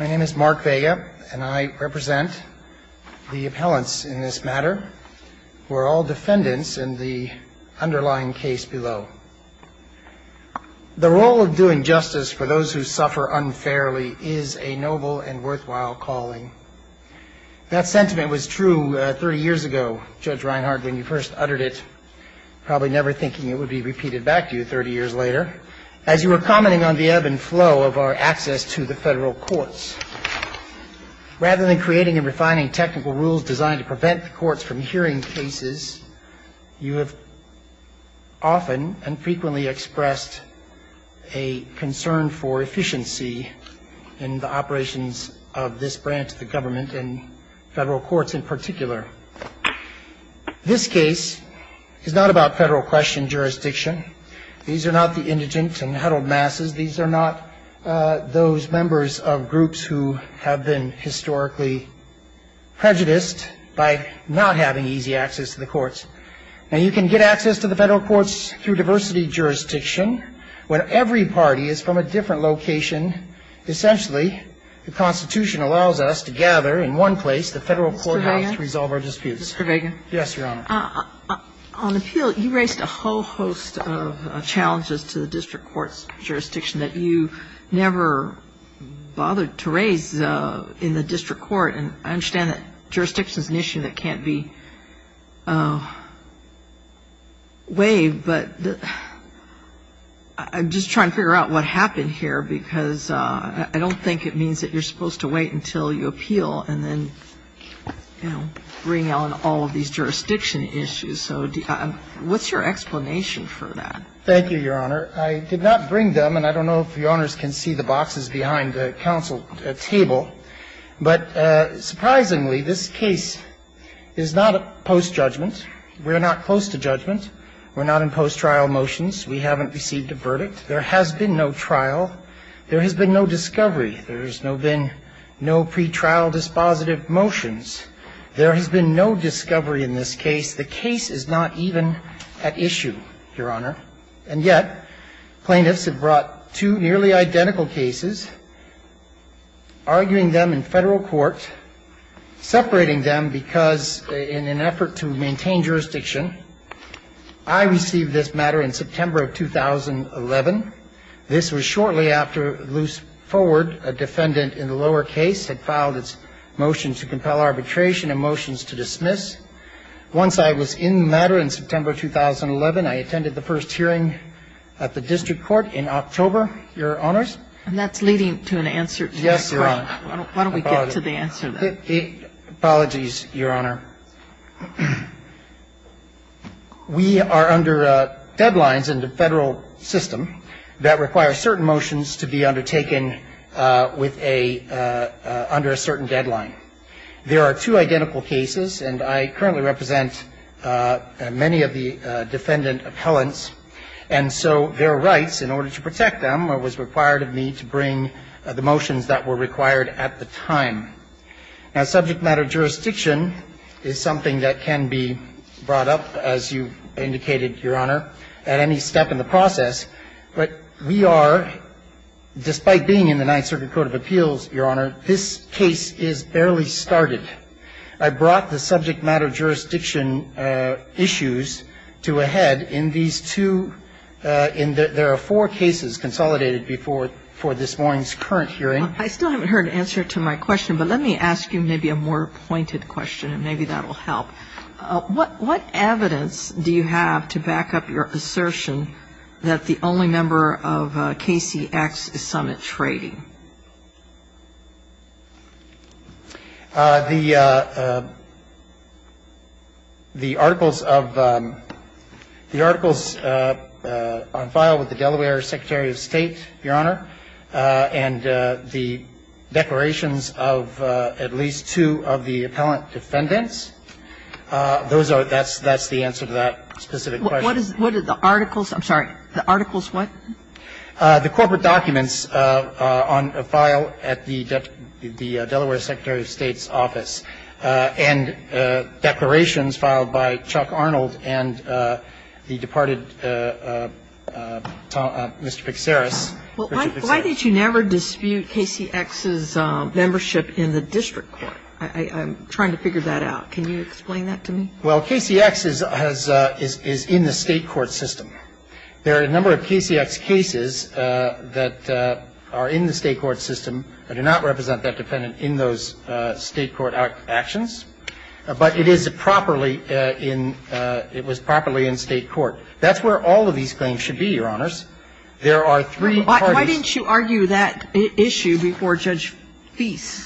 My name is Mark Vega, and I represent the appellants in this matter, who are all defendants in the underlying case below. The role of doing justice for those who suffer unfairly is a noble and worthwhile calling. That sentiment was true 30 years ago, Judge Reinhart, when you first uttered it, probably never thinking it would be repeated back to you 30 years later, as you were commenting on the ebb and flow of our access to the federal courts. Rather than creating and refining technical rules designed to prevent the courts from hearing cases, you have often and frequently expressed a concern for efficiency in the operations of this branch of the government, and federal courts in particular. This case is not about federal question jurisdiction. These are not the indigent and huddled masses. These are not those members of groups who have been historically prejudiced by not having easy access to the courts. Now, you can get access to the federal courts through diversity jurisdiction, when every party is from a different location. Essentially, the Constitution allows us to gather in one place, the federal courthouse, to resolve our disputes. Kagan. Yes, Your Honor. On appeal, you raised a whole host of challenges to the district court's jurisdiction that you never bothered to raise in the district court. And I understand that jurisdiction is an issue that can't be waived, but I'm just trying to figure out what happened here, because I don't think it means that you're supposed to wait until you appeal and then, you know, bring on all of these jurisdiction issues. So what's your explanation for that? Thank you, Your Honor. I did not bring them, and I don't know if Your Honors can see the boxes behind the counsel table, but surprisingly, this case is not post-judgment. We're not close to judgment. We're not in post-trial motions. We haven't received a verdict. There has been no trial. There has been no discovery. There has been no pre-trial dispositive motions. There has been no discovery in this case. The case is not even at issue, Your Honor. And yet, plaintiffs have brought two nearly identical cases, arguing them in federal court, separating them because in an effort to maintain jurisdiction. I received this matter in September of 2011. This was shortly after Luce Forward, a defendant in the lower case, had filed its motion to compel arbitration and motions to dismiss. Once I was in the matter in September 2011, I attended the first hearing at the district court in October, Your Honors. And that's leading to an answer to your question. Yes, Your Honor. Why don't we get to the answer then? Apologies, Your Honor. We are under deadlines in the federal system that require certain motions to be undertaken with a under a certain deadline. There are two identical cases, and I currently represent many of the defendant appellants. And so their rights, in order to protect them, it was required of me to bring the motions that were required at the time. Now, subject matter jurisdiction is something that can be brought up, as you indicated, Your Honor, at any step in the process. But we are, despite being in the Ninth Circuit Court of Appeals, Your Honor, this case is barely started. I brought the subject matter jurisdiction issues to a head in these two. There are four cases consolidated before this morning's current hearing. I still haven't heard an answer to my question, but let me ask you maybe a more pointed question, and maybe that will help. What evidence do you have to back up your assertion that the only member of KCX is summit trading? The articles on file with the Delaware Secretary of State, Your Honor, and the declarations of at least two of the appellant defendants, those are the answer to that specific question. What are the articles? I'm sorry. The articles what? The corporate documents on file at the Delaware Secretary of State's office. And declarations filed by Chuck Arnold and the departed Mr. Pixeris. Well, why did you never dispute KCX's membership in the district court? I'm trying to figure that out. Can you explain that to me? Well, KCX is in the State court system. There are a number of KCX cases that are in the State court system. I do not represent that defendant in those State court actions. But it is properly in the State court. That's where all of these claims should be, Your Honors. There are three parties. Why didn't you argue that issue before Judge Feist?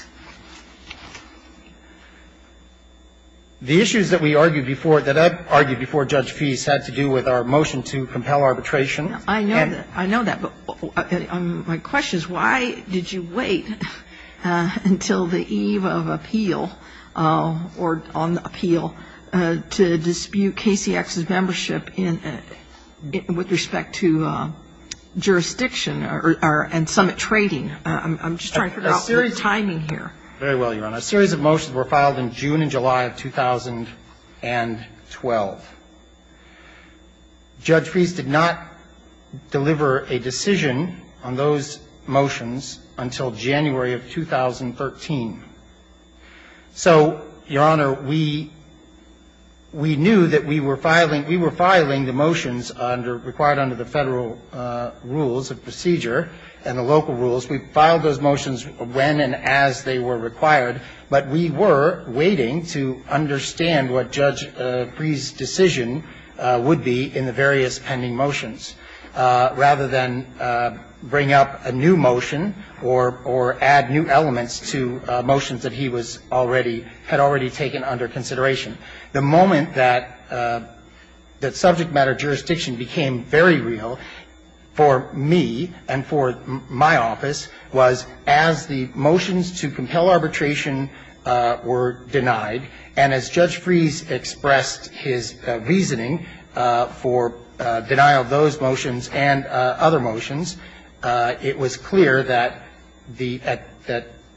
The issues that we argued before, that I've argued before Judge Feist, had to do with our motion to compel arbitration. I know that. I know that. My question is why did you wait until the eve of appeal or on appeal to dispute KCX's membership with respect to jurisdiction and summit trading? I'm just trying to figure out the timing here. Very well, Your Honor. A series of motions were filed in June and July of 2012. Judge Feist did not deliver a decision on those motions until January of 2013. So, Your Honor, we knew that we were filing the motions required under the Federal rules of procedure and the local rules. We filed those motions when and as they were required. But we were waiting to understand what Judge Freeh's decision would be in the various pending motions, rather than bring up a new motion or add new elements to motions that he had already taken under consideration. The moment that subject matter jurisdiction became very real for me and for my office was as the motions to compel arbitration were denied, and as Judge Freeh's expressed his reasoning for denial of those motions and other motions, it was clear that the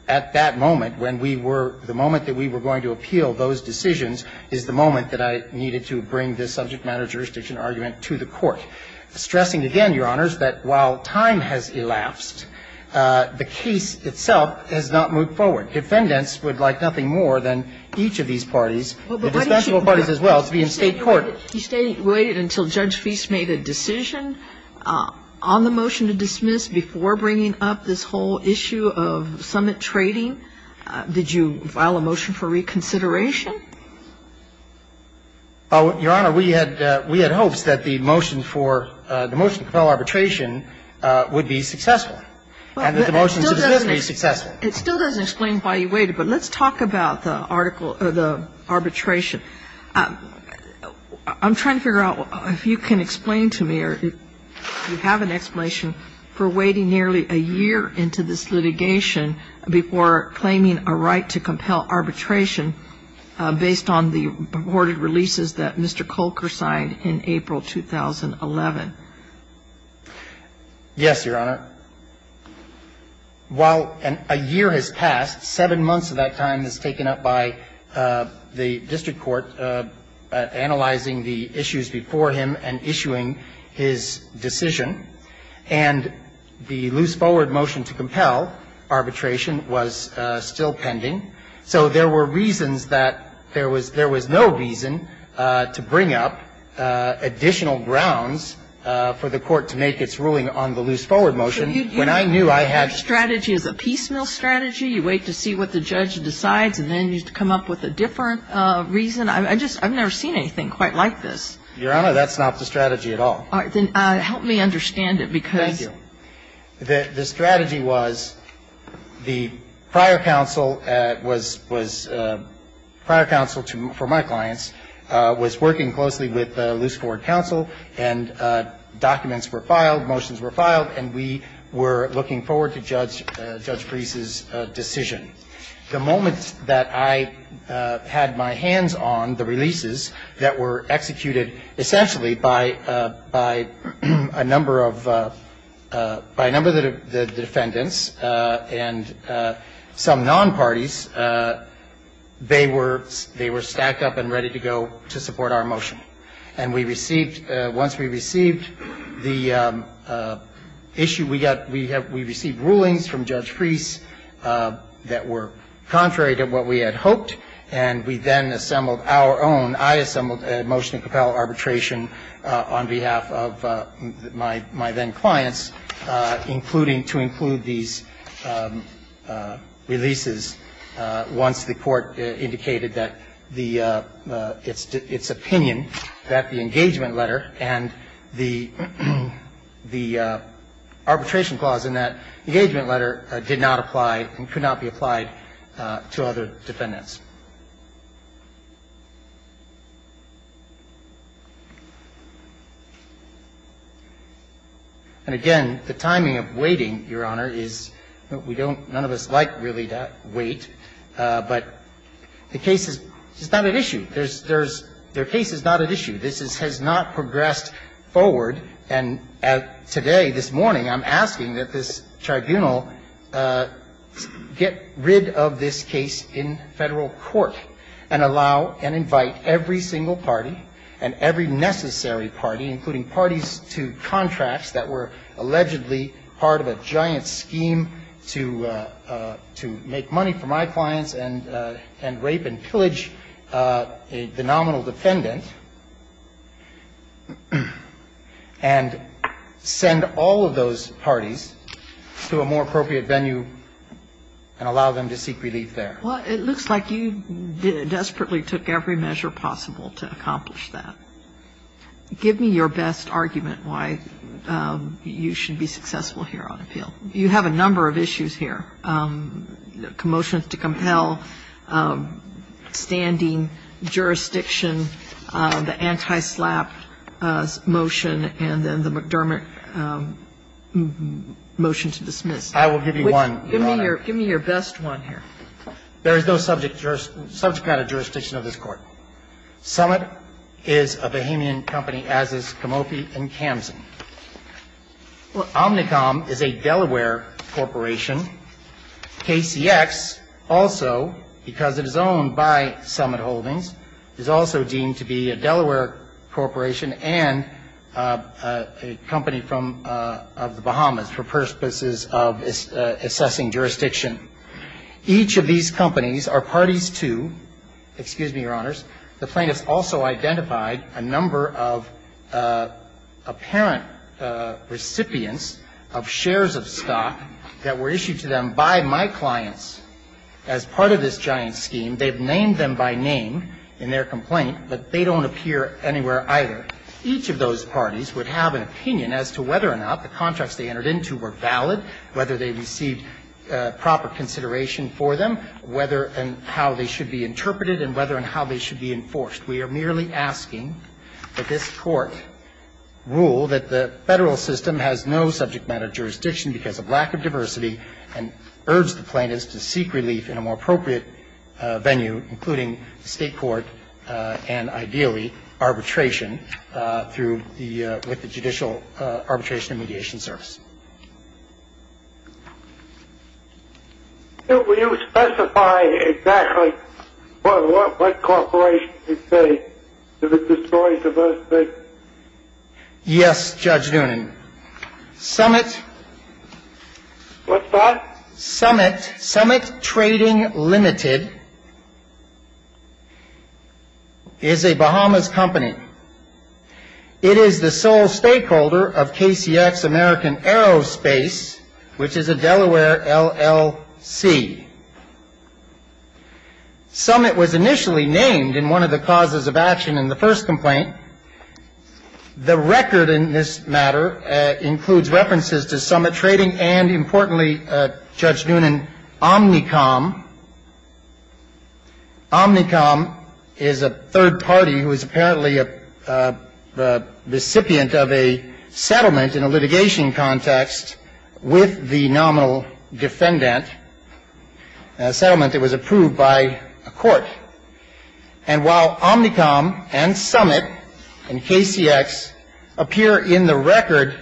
at that moment, when we were the moment that we were going to appeal those decisions, is the moment that I needed to bring this subject matter jurisdiction argument to the Court. I think stressing again, Your Honors, that while time has elapsed, the case itself has not moved forward. Defendants would like nothing more than each of these parties, the dispensable parties as well, to be in State court. You waited until Judge Feist made a decision on the motion to dismiss before bringing up this whole issue of summit trading? Did you file a motion for reconsideration? Your Honor, we had hopes that the motion for the motion to compel arbitration would be successful and that the motion to dismiss would be successful. It still doesn't explain why you waited, but let's talk about the arbitration. I'm trying to figure out if you can explain to me or if you have an explanation for waiting nearly a year into this litigation before claiming a right to compel arbitration based on the reported releases that Mr. Kolker signed in April 2011. Yes, Your Honor. While a year has passed, seven months of that time is taken up by the district court analyzing the issues before him and issuing his decision. And the loose forward motion to compel arbitration was still pending. So there were reasons that there was no reason to bring up additional grounds for the court to make its ruling on the loose forward motion. Your strategy is a piecemeal strategy? You wait to see what the judge decides and then you come up with a different reason? I've never seen anything quite like this. Your Honor, that's not the strategy at all. All right. Then help me understand it, because the strategy was the prior counsel at the district court that was prior counsel for my clients was working closely with loose forward counsel and documents were filed, motions were filed, and we were looking forward to Judge Preece's decision. The moment that I had my hands on the releases that were executed essentially by a number of the defendants and some non-parties, they were stacked up and ready to go to support our motion. And we received, once we received the issue, we received rulings from Judge Preece that were contrary to what we had hoped, and we then assembled our own, I assembled a motion to compel arbitration on behalf of my then clients, including, to include these releases once the court indicated that its opinion that the engagement letter and the arbitration clause in that engagement letter did not apply and could not be applied to other defendants. And, again, the timing of waiting, Your Honor, is a little bit different. None of us like really to wait, but the case is not at issue. Their case is not at issue. This has not progressed forward, and today, this morning, I'm asking that this tribunal get rid of this case in Federal court and allow and invite every single party and every necessary party, including parties to contracts that were allegedly part of a giant scheme to make money for my clients and rape and pillage the nominal defendant, and send all of those parties to a more appropriate venue and allow them to seek relief there. Well, it looks like you desperately took every measure possible to accomplish that. Give me your best argument why you should be successful here on appeal. You have a number of issues here, commotion to compel, standing, jurisdiction, the anti-SLAPP motion, and then the McDermott motion to dismiss. I will give you one, Your Honor. Give me your best one here. There is no subject kind of jurisdiction of this Court. Summit is a bohemian company, as is Comopi and Kamsen. Well, Omnicom is a Delaware corporation. KCX also, because it is owned by Summit Holdings, is also deemed to be a Delaware corporation and a company from the Bahamas for purposes of assessing jurisdiction. Each of these companies are parties to, excuse me, Your Honors, the plaintiffs also identified a number of apparent recipients of shares of stock that were issued to them by my clients as part of this giant scheme. They've named them by name in their complaint, but they don't appear anywhere either. Each of those parties would have an opinion as to whether or not the contracts they entered into were valid, whether they received proper consideration for them, whether and how they should be interpreted and whether and how they should be enforced. We are merely asking that this Court rule that the Federal system has no subject matter jurisdiction because of lack of diversity, and urge the plaintiffs to seek relief in a more appropriate venue, including the State court and, ideally, arbitration through the judicial arbitration and mediation service. Judge Noonan. Will you specify exactly what corporation you say that destroys diversity? Yes, Judge Noonan. Summit... What's that? Summit Trading Limited is a Bahamas company. It is the sole stakeholder of KCX American Aerospace, which is a Delaware LLC. Summit was initially named in one of the causes of action in the first complaint. The record in this matter includes references to Summit Trading and, importantly, Judge Noonan, Omnicom. Omnicom is a third party who is apparently a recipient of a settlement in a litigation context with the nominal defendant, a settlement that was approved by a court. And while Omnicom and Summit and KCX appear in the record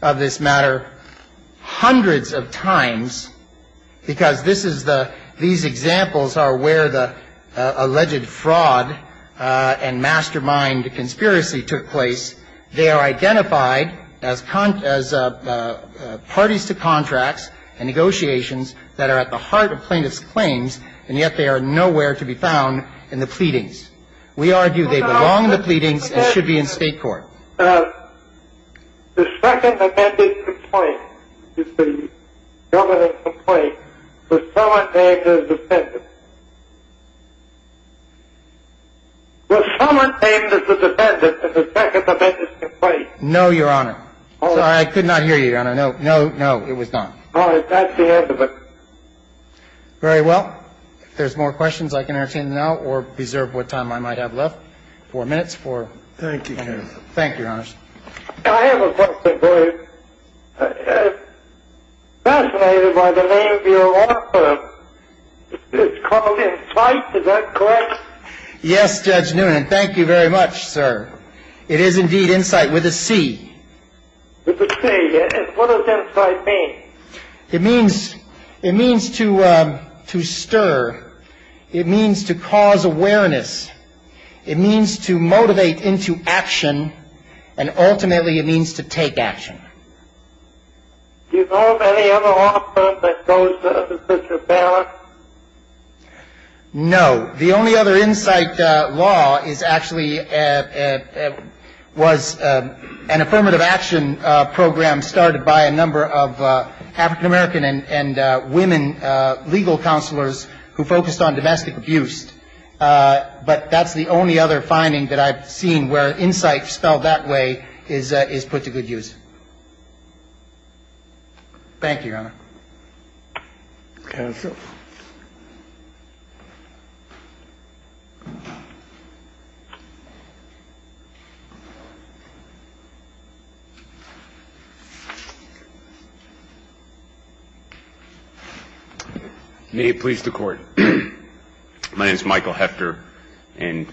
of this matter hundreds of times, because these examples are where the alleged fraud and mastermind conspiracy took place, they are identified as parties to contracts and negotiations that are at the heart of plaintiffs' claims, and yet they are nowhere to be found in the pleadings. We argue they belong in the pleadings and should be in State court. The second amended complaint is the nominal complaint with Summit named as defendant. With Summit named as the defendant in the second amended complaint. No, Your Honor. Sorry, I could not hear you, Your Honor. No, no, no. It was not. All right. That's the end of it. Very well. If there's more questions, I can entertain them now or preserve what time I might have left. Four minutes for... Thank you, Your Honor. Thank you, Your Honor. I have a question for you. Fascinated by the name of your author, it's called Insight. Is that correct? Yes, Judge Newnan. Thank you very much, sir. It is indeed Insight with a C. With a C. What does Insight mean? It means to stir. It means to cause awareness. It means to motivate into action. And ultimately, it means to take action. Do you know of any other law that goes with your balance? No. The only other Insight law is actually was an affirmative action program started by a number of African-American and women legal counselors who focused on domestic abuse. But that's the only other finding that I've seen where Insight spelled that way is put to good use. Counsel. May it please the Court. My name is Michael Hefter, and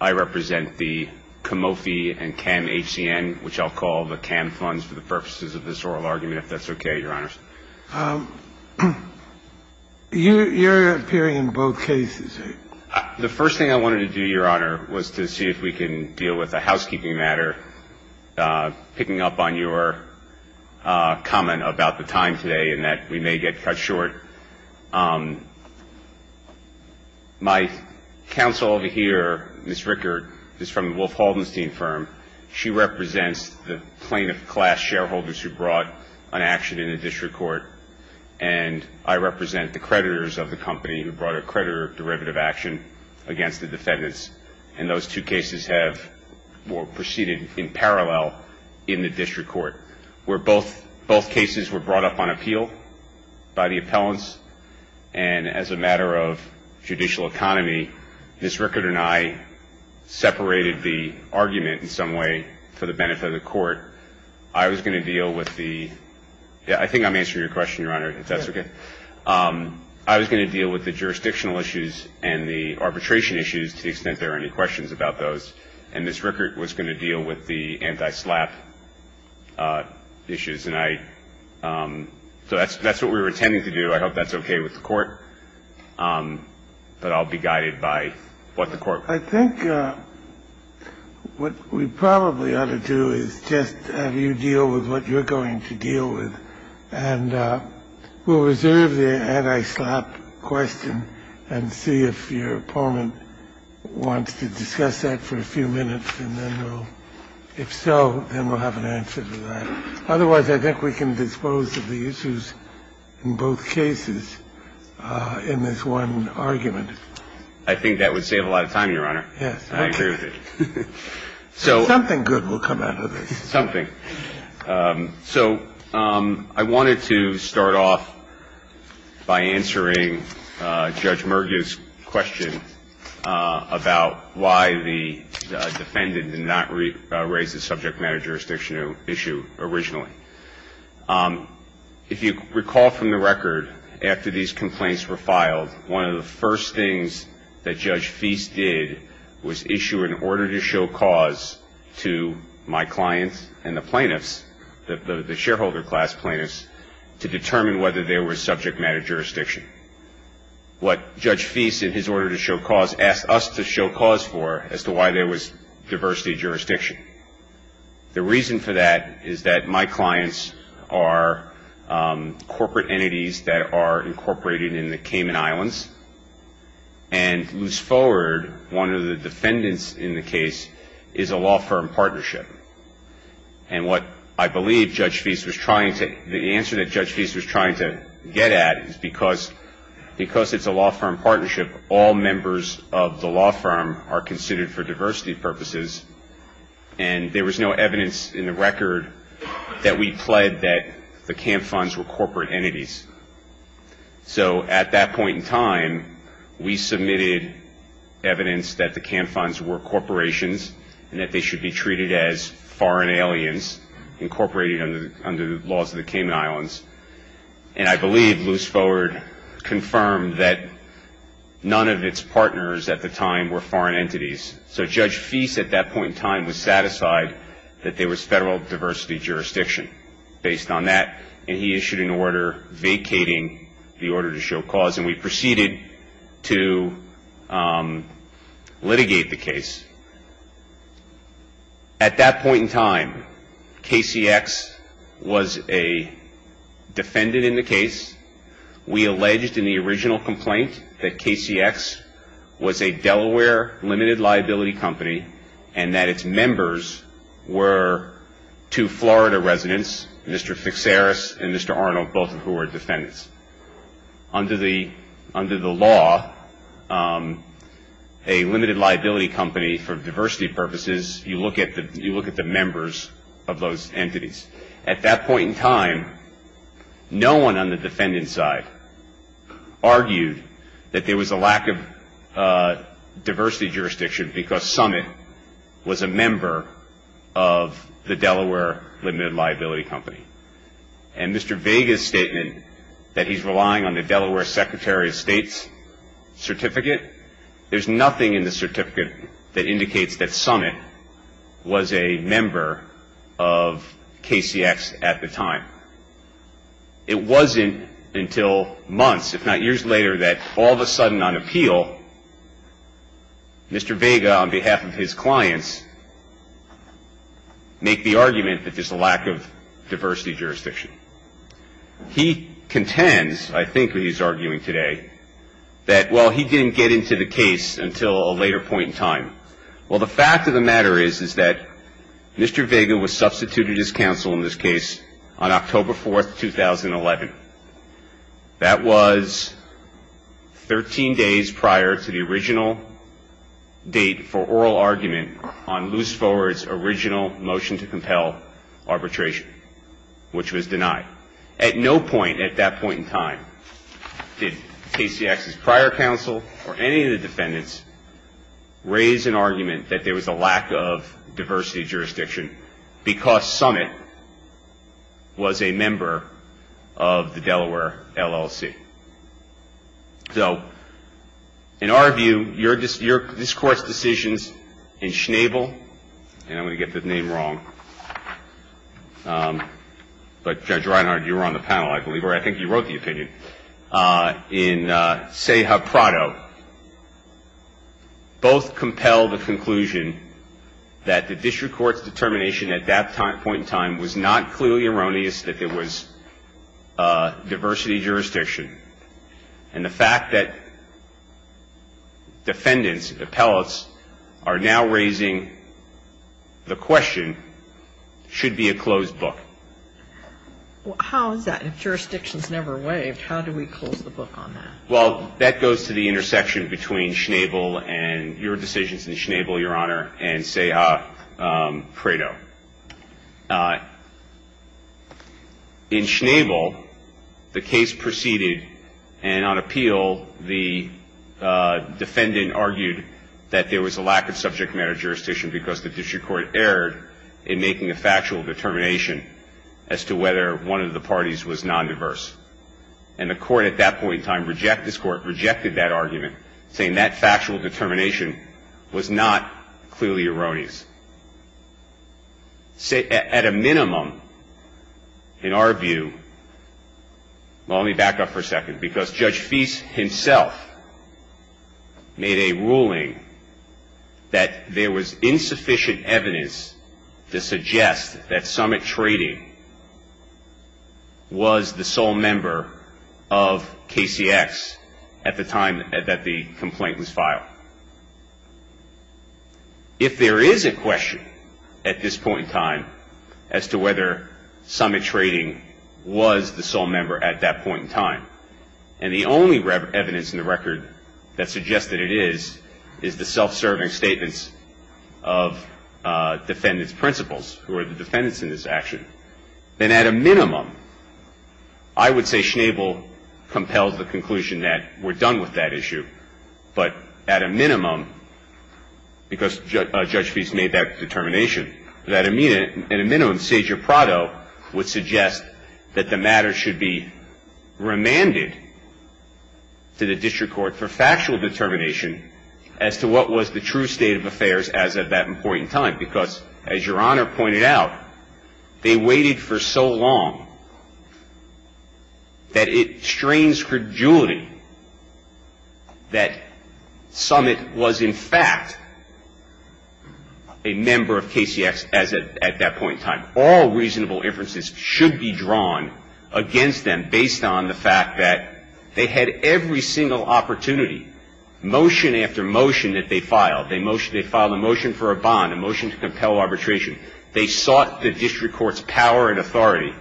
I represent the Comofi and CAM HCN, which I'll call the CAM funds for the purposes of this oral argument, if that's okay, Your Honors. You're appearing in both cases. The first thing I wanted to do, Your Honor, was to see if we can deal with a housekeeping matter. Picking up on your comment about the time today and that we may get cut short, my counsel over here, Ms. Rickert, is from the Wolf Holdenstein firm. She represents the plaintiff class shareholders who brought an action in the district court, and I represent the creditors of the company who brought a creditor derivative action against the defendants. And those two cases have proceeded in parallel in the district court, where both cases were brought up on appeal by the appellants, and as a matter of judicial economy, Ms. Rickert and I separated the argument in some way for the benefit of the court. I was going to deal with the – yeah, I think I'm answering your question, Your Honor, if that's okay. I was going to deal with the jurisdictional issues and the arbitration issues to the extent there are any questions about those. And Ms. Rickert was going to deal with the anti-SLAPP issues, and I – so that's what we were intending to do. I hope that's okay with the court, but I'll be guided by what the court – I think what we probably ought to do is just have you deal with what you're going to deal with, and we'll reserve the anti-SLAPP question and see if your opponent wants to discuss that for a few minutes, and then we'll – if so, then we'll have an answer to that. Otherwise, I think we can dispose of the issues in both cases in this one argument. I think that would save a lot of time, Your Honor. Yes, okay. I agree with it. Something good will come out of this. Something. So I wanted to start off by answering Judge Murga's question about why the defendant did not raise the subject matter jurisdiction issue originally. If you recall from the record, after these complaints were filed, one of the first things that Judge Feist did was issue an order to show cause to my clients and the plaintiffs, the shareholder class plaintiffs, to determine whether there was subject matter jurisdiction. What Judge Feist, in his order to show cause, asked us to show cause for as to why there was diversity of jurisdiction. The reason for that is that my clients are corporate entities that are incorporated in the Cayman Islands, and loose forward, one of the defendants in the case is a law firm partnership. And what I believe Judge Feist was trying to – the answer that Judge Feist was trying to get at is because it's a law firm partnership, all members of the law firm are considered for diversity purposes, and there was no evidence in the record that we pled that the camp funds were corporate entities. So at that point in time, we submitted evidence that the camp funds were corporations and that they should be treated as foreign aliens incorporated under the laws of the Cayman Islands. And I believe loose forward confirmed that none of its partners at the time were foreign entities. So Judge Feist at that point in time was satisfied that there was federal diversity jurisdiction based on that, and he issued an order vacating the order to show cause, and we proceeded to litigate the case. At that point in time, KCX was a defendant in the case. We alleged in the original complaint that KCX was a Delaware limited liability company and that its members were two Florida residents, Mr. Fixaris and Mr. Arnold, both of whom are defendants. Under the law, a limited liability company for diversity purposes, you look at the members of those entities. At that point in time, no one on the defendant's side argued that there was a lack of diversity jurisdiction because Summit was a member of the Delaware limited liability company. And Mr. Vega's statement that he's relying on the Delaware Secretary of State's certificate, there's nothing in the certificate that indicates that Summit was a member of KCX at the time. It wasn't until months, if not years later, that all of a sudden on appeal, Mr. Vega, on behalf of his clients, made the argument that there's a lack of diversity jurisdiction. He contends, I think what he's arguing today, that, well, he didn't get into the case until a later point in time. Well, the fact of the matter is, is that Mr. Vega was substituted as counsel in this case on October 4th, 2011. That was 13 days prior to the original date for oral argument on Loose Forward's original motion to compel arbitration, which was denied. At no point at that point in time did KCX's prior counsel or any of the defendants raise an argument that there was a lack of diversity jurisdiction because Summit was a member of the Delaware LLC. So in our view, this Court's decisions in Schnabel, and I'm going to get the name wrong, but Judge Reinhardt, you were on the panel, I believe, or I think you wrote the opinion, in Ceja Prado, both compel the conclusion that the district court's determination at that point in time was not clearly erroneous that there was diversity jurisdiction. And the fact that defendants, appellates, are now raising the question should be a closed book. Well, how is that? If jurisdiction's never waived, how do we close the book on that? Well, that goes to the intersection between Schnabel and your decisions in Schnabel, Your Honor, and Ceja Prado. In Schnabel, the case proceeded, and on appeal, the defendant argued that there was a lack of subject matter jurisdiction because the district court erred in making a factual determination as to whether one of the parties was non-diverse. And the Court at that point in time rejected that argument, saying that factual determination was not clearly erroneous. At a minimum, in our view, well, let me back up for a second, because Judge Feist himself made a ruling that there was insufficient evidence to suggest that Summit Trading was the sole member of KCX at the time that the complaint was filed. If there is a question at this point in time as to whether Summit Trading was the sole member at that point in time, and the only evidence in the record that suggests that it is, is the self-serving statements of defendant's principles, who are the defendants in this action, then at a minimum, I would say Schnabel compels the conclusion that we're done with that issue. But at a minimum, because Judge Feist made that determination, that at a minimum, Sager Prado would suggest that the matter should be remanded to the district court for factual determination as to what was the true state of affairs as of that point in time. Because, as Your Honor pointed out, they waited for so long that it strains credulity that Summit was in fact a member of KCX at that point in time. All reasonable inferences should be drawn against them based on the fact that they had every single opportunity, motion after motion that they filed. They filed a motion for a bond, a motion to compel arbitration. They sought the district court's power and authority.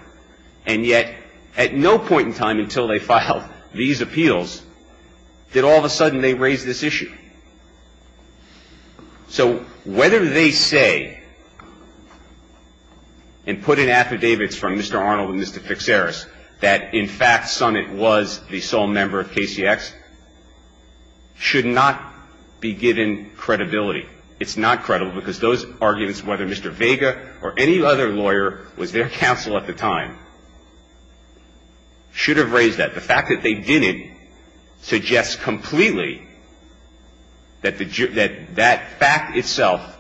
And yet, at no point in time until they filed these appeals did all of a sudden they raise this issue. So whether they say and put in affidavits from Mr. Arnold and Mr. Fixeris that in fact Summit was the sole member of KCX should not be given credibility. It's not credible because those arguments, whether Mr. Vega or any other lawyer was their counsel at the time, should have raised that. The fact that they didn't suggests completely that that fact itself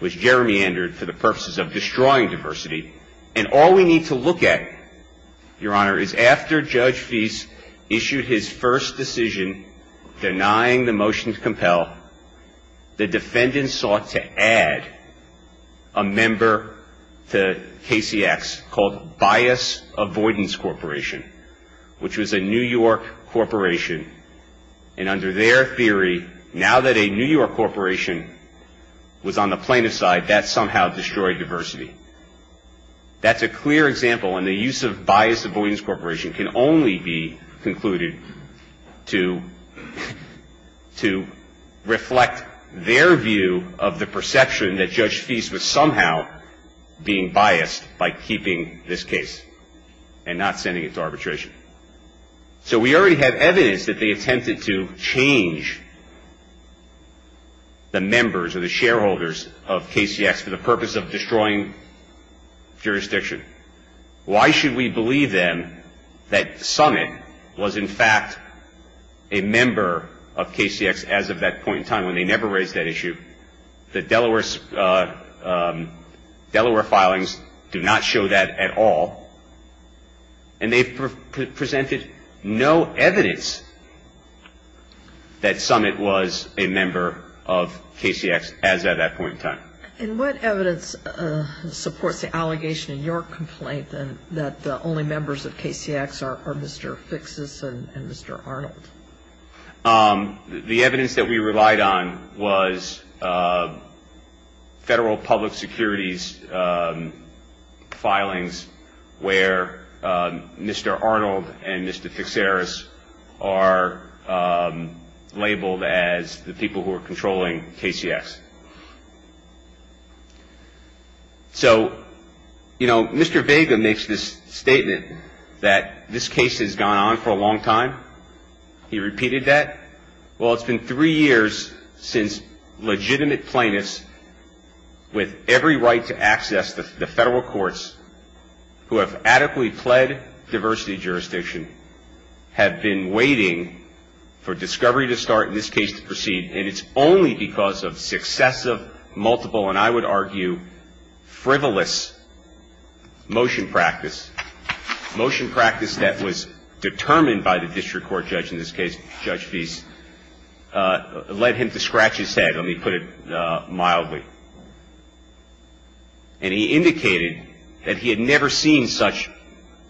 was gerrymandered for the purposes of destroying diversity. And all we need to look at, Your Honor, is after Judge Feist issued his first decision denying the motion to compel, the defendants sought to add a member to KCX called Bias Avoidance Corporation, which was a New York corporation. And under their theory, now that a New York corporation was on the plaintiff's side, that somehow destroyed diversity. That's a clear example. And the use of Bias Avoidance Corporation can only be concluded to reflect their view of the perception that Judge Feist was somehow being biased by keeping this case and not sending it to arbitration. So we already have evidence that they attempted to change the members or the shareholders of KCX for the purpose of destroying jurisdiction. Why should we believe then that Summit was in fact a member of KCX as of that point in time when they never raised that issue? The Delaware filings do not show that at all. And they presented no evidence that Summit was a member of KCX as of that point in time. And what evidence supports the allegation in your complaint that the only members of KCX are Mr. Fixus and Mr. Arnold? The evidence that we relied on was federal public securities filings where Mr. Arnold and Mr. Fixeris are labeled as the people who are controlling KCX. So, you know, Mr. Vega makes this statement that this case has gone on for a long time. He repeated that. Well, it's been three years since legitimate plaintiffs with every right to access the federal courts who have adequately pled diversity jurisdiction have been waiting for discovery to start and this case to proceed. And it's only because of successive, multiple, and I would argue frivolous motion practice, motion practice that was determined by the district court judge in this case, Judge Fease, led him to scratch his head, let me put it mildly. And he indicated that he had never seen such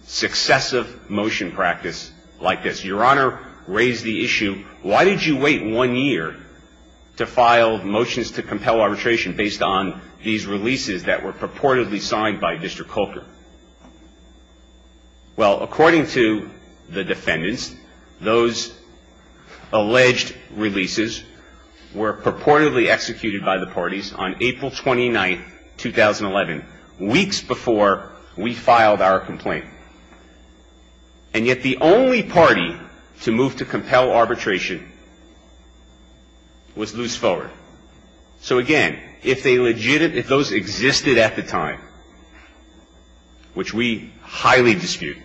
successive motion practice like this. Your Honor raised the issue, why did you wait one year to file motions to compel arbitration based on these releases that were purportedly signed by District Corker? Well, according to the defendants, those alleged releases were purportedly executed by the parties on April 29th, 2011, weeks before we filed our complaint. And yet the only party to move to compel arbitration was Luce Fuller. So, again, if they legitimate, if those existed at the time, which we highly dispute,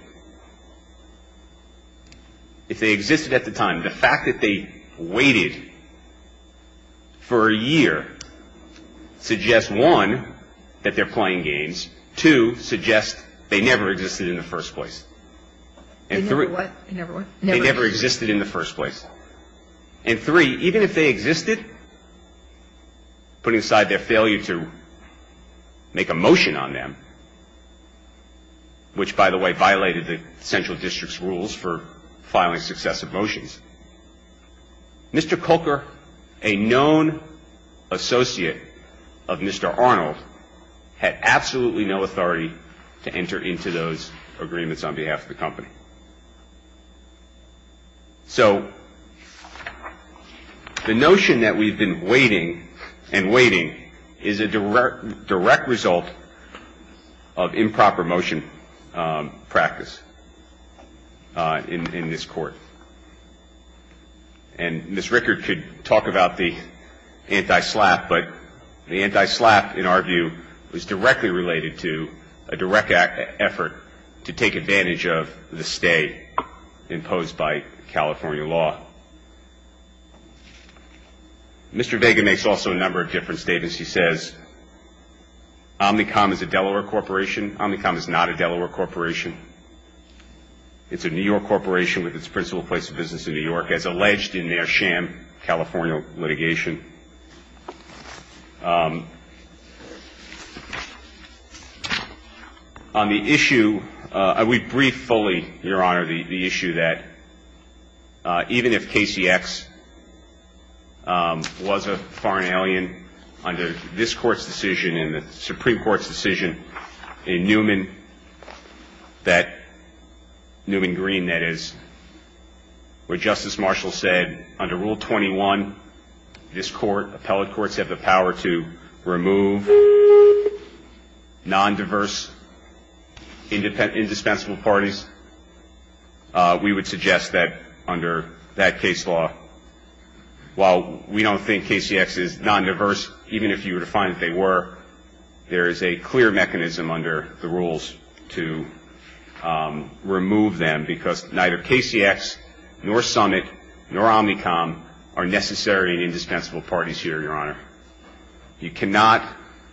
if they existed at the time, the fact that they waited for a year suggests, one, that they're playing games, two, suggests they never existed in the first place. They never what? They never existed in the first place. And, three, even if they existed, put inside their failure to make a motion on them, which, by the way, filing successive motions. Mr. Corker, a known associate of Mr. Arnold, had absolutely no authority to enter into those agreements on behalf of the company. So the notion that we've been waiting and waiting is a direct result of improper motion practice in this Court. And Ms. Rickard could talk about the anti-SLAPP, but the anti-SLAPP, in our view, was directly related to a direct effort to take advantage of the stay imposed by California law. Mr. Vega makes also a number of different statements. He says, Omnicom is a Delaware corporation. Omnicom is not a Delaware corporation. It's a New York corporation with its principal place of business in New York, as alleged in their sham California litigation. On the issue, I would brief fully, Your Honor, the issue that even if Casey X was a foreign alien under this Court's decision and the Supreme This Court, appellate courts, have the power to remove non-diverse, indispensable parties. We would suggest that under that case law, while we don't think Casey X is non-diverse, even if you were to find that they were, there is a clear mechanism under the rules to remove them because neither Casey X nor Summit nor Omnicom are necessary and indispensable parties here, Your Honor. You cannot,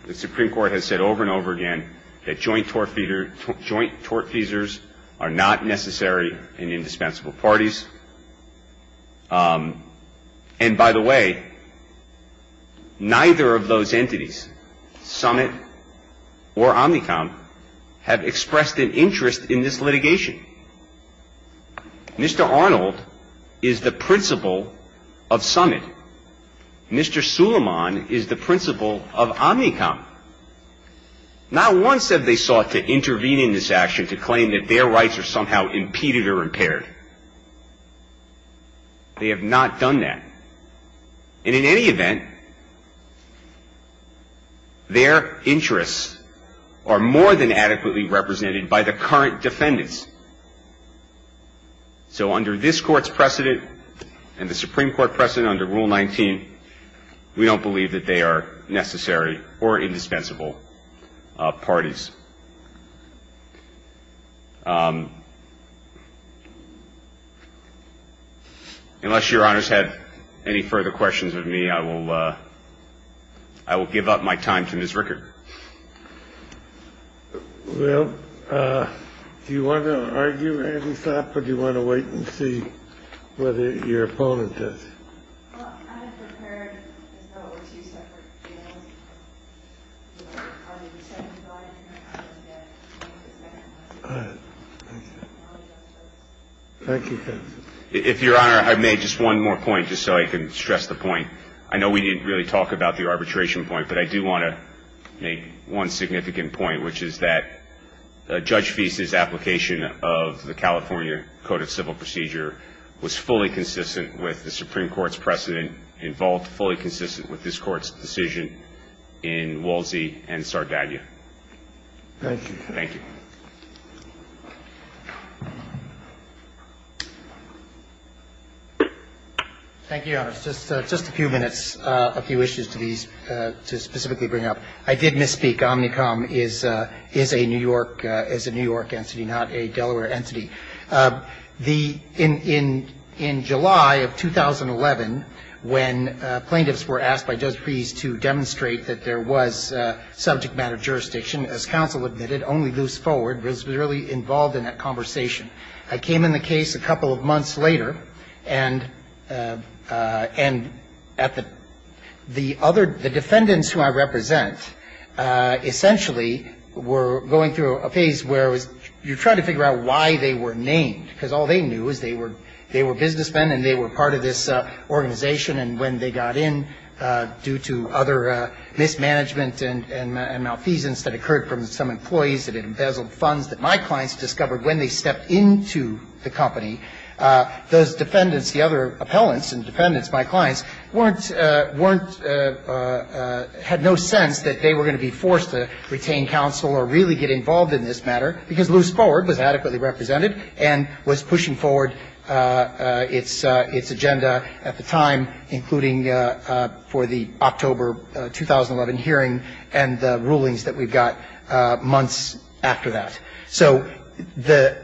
the Supreme Court has said over and over again, that joint tortfeasors are not necessary and indispensable parties. And by the way, neither of those entities, Summit or Omnicom, have expressed an interest in this litigation. Mr. Arnold is the principal of Summit. Mr. Suleiman is the principal of Omnicom. Not once have they sought to intervene in this action to claim that their rights are somehow impeded or impaired. They have not done that. And in any event, their interests are more than adequately represented by the current defendants. So under this Court's precedent and the Supreme Court precedent under Rule 19, we don't believe that they are necessary or indispensable parties. Unless Your Honors have any further questions of me, I will give up my time to Ms. Rickard. Well, do you want to argue any thought, or do you want to wait and see whether your opponent does? Well, I have prepared, as though it were two separate bills. I mean, the second file, you're going to have to look at the second one. All right. Thank you. Thank you. If Your Honor, I've made just one more point, just so I can stress the point. I know we didn't really talk about the arbitration point, but I do want to make one significant point, which is that Judge Feast's application of the Supreme Court's precedent involved fully consistent with this Court's decision in Wolsey and Sardaglia. Thank you. Thank you. Thank you, Your Honors. Just a few minutes, a few issues to specifically bring up. I did misspeak. Omnicom is a New York entity, not a Delaware entity. In July of 2011, when plaintiffs were asked by Judge Feast to demonstrate that there was subject matter jurisdiction, as counsel admitted, only moves forward, was really involved in that conversation. I came in the case a couple of months later, and at the other the defendants who I represent, essentially were going through a phase where it was you're trying to figure out why they were named, because all they knew is they were businessmen and they were part of this organization. And when they got in, due to other mismanagement and malfeasance that occurred from some employees that had embezzled funds that my clients discovered when they stepped into the company, those defendants, the other appellants and defendants, my clients, weren't, had no sense that they were going to be forced to retain counsel or really get involved in this matter, because Lewis Ford was adequately represented and was pushing forward its agenda at the time, including for the October 2011 hearing and the rulings that we've got months after that. So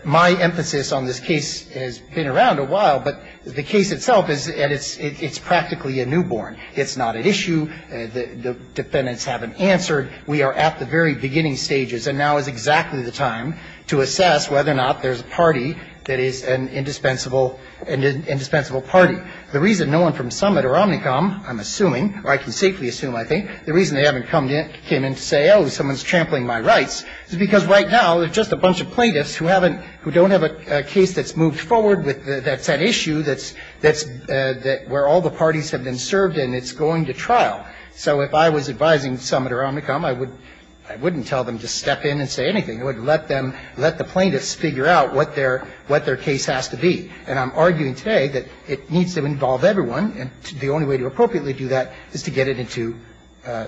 my emphasis on this case has been around a while, but the case itself is, and it's practically a newborn. It's not an issue. The defendants haven't answered. We are at the very beginning stages, and now is exactly the time to assess whether or not there's a party that is an indispensable party. The reason no one from Summit or Omnicom, I'm assuming, or I can safely assume, I think, the reason they haven't come in to say, oh, someone's trampling my rights, is because right now there's just a bunch of plaintiffs who haven't, who don't have a case that's moved forward that's an issue that's where all the parties have been served, and it's going to trial. So if I was advising Summit or Omnicom, I wouldn't tell them to step in and say anything. I would let them, let the plaintiffs figure out what their case has to be. And I'm arguing today that it needs to involve everyone, and the only way to appropriately do that is to get it into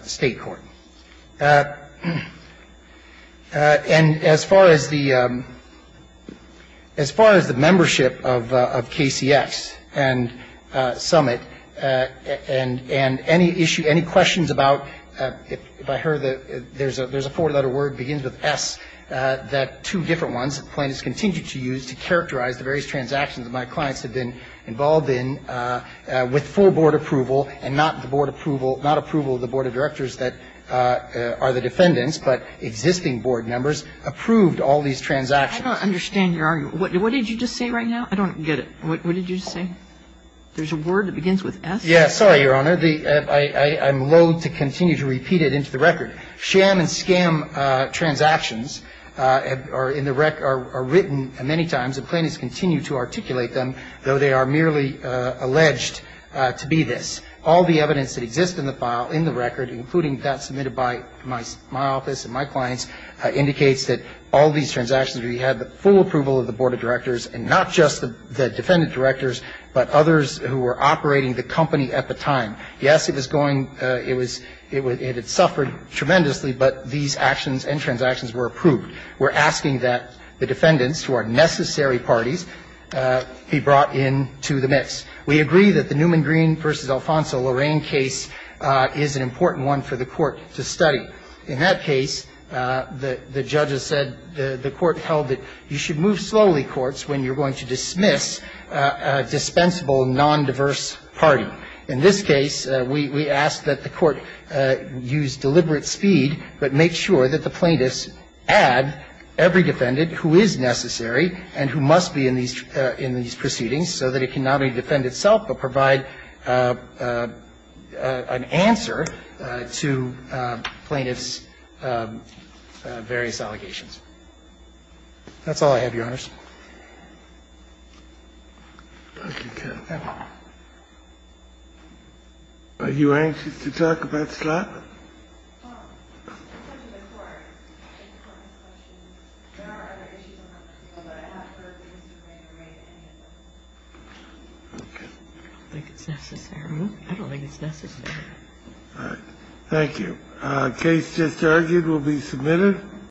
state court. And as far as the membership of KCX and Summit, and any issue, any questions about, if I heard that there's a four-letter word that begins with S, that two different ones, that the plaintiffs continue to use to characterize the various transactions that my clients have been involved in with full board approval and not the board approval, not approval of the board of directors that are the defendants, but existing board members approved all these transactions. Kagan. I don't understand your argument. What did you just say right now? I don't get it. What did you just say? There's a word that begins with S? Yes. Sorry, Your Honor. I'm loathe to continue to repeat it into the record. Sham and scam transactions are in the record, are written many times, and plaintiffs continue to articulate them, though they are merely alleged to be this. All the evidence that exists in the file, in the record, including that submitted by my office and my clients, indicates that all these transactions, we had the full approval of the board of directors and not just the defendant directors, but others who were operating the company at the time. Yes, it was going, it was, it had suffered tremendously, but these actions and transactions were approved. We're asking that the defendants, who are necessary parties, be brought into the mix. We agree that the Newman Green v. Alfonso Lorraine case is an important one for the court to study. In that case, the judges said, the court held that you should move slowly, and we're asking that the court use deliberate speed, but make sure that the plaintiffs add every defendant who is necessary and who must be in these proceedings, so that it cannot only defend itself, but provide an answer to plaintiffs' various allegations. Thank you. Thank you. Are you anxious to talk about slot? I don't think it's necessary. I don't think it's necessary. All right. Thank you. The case just argued will be submitted.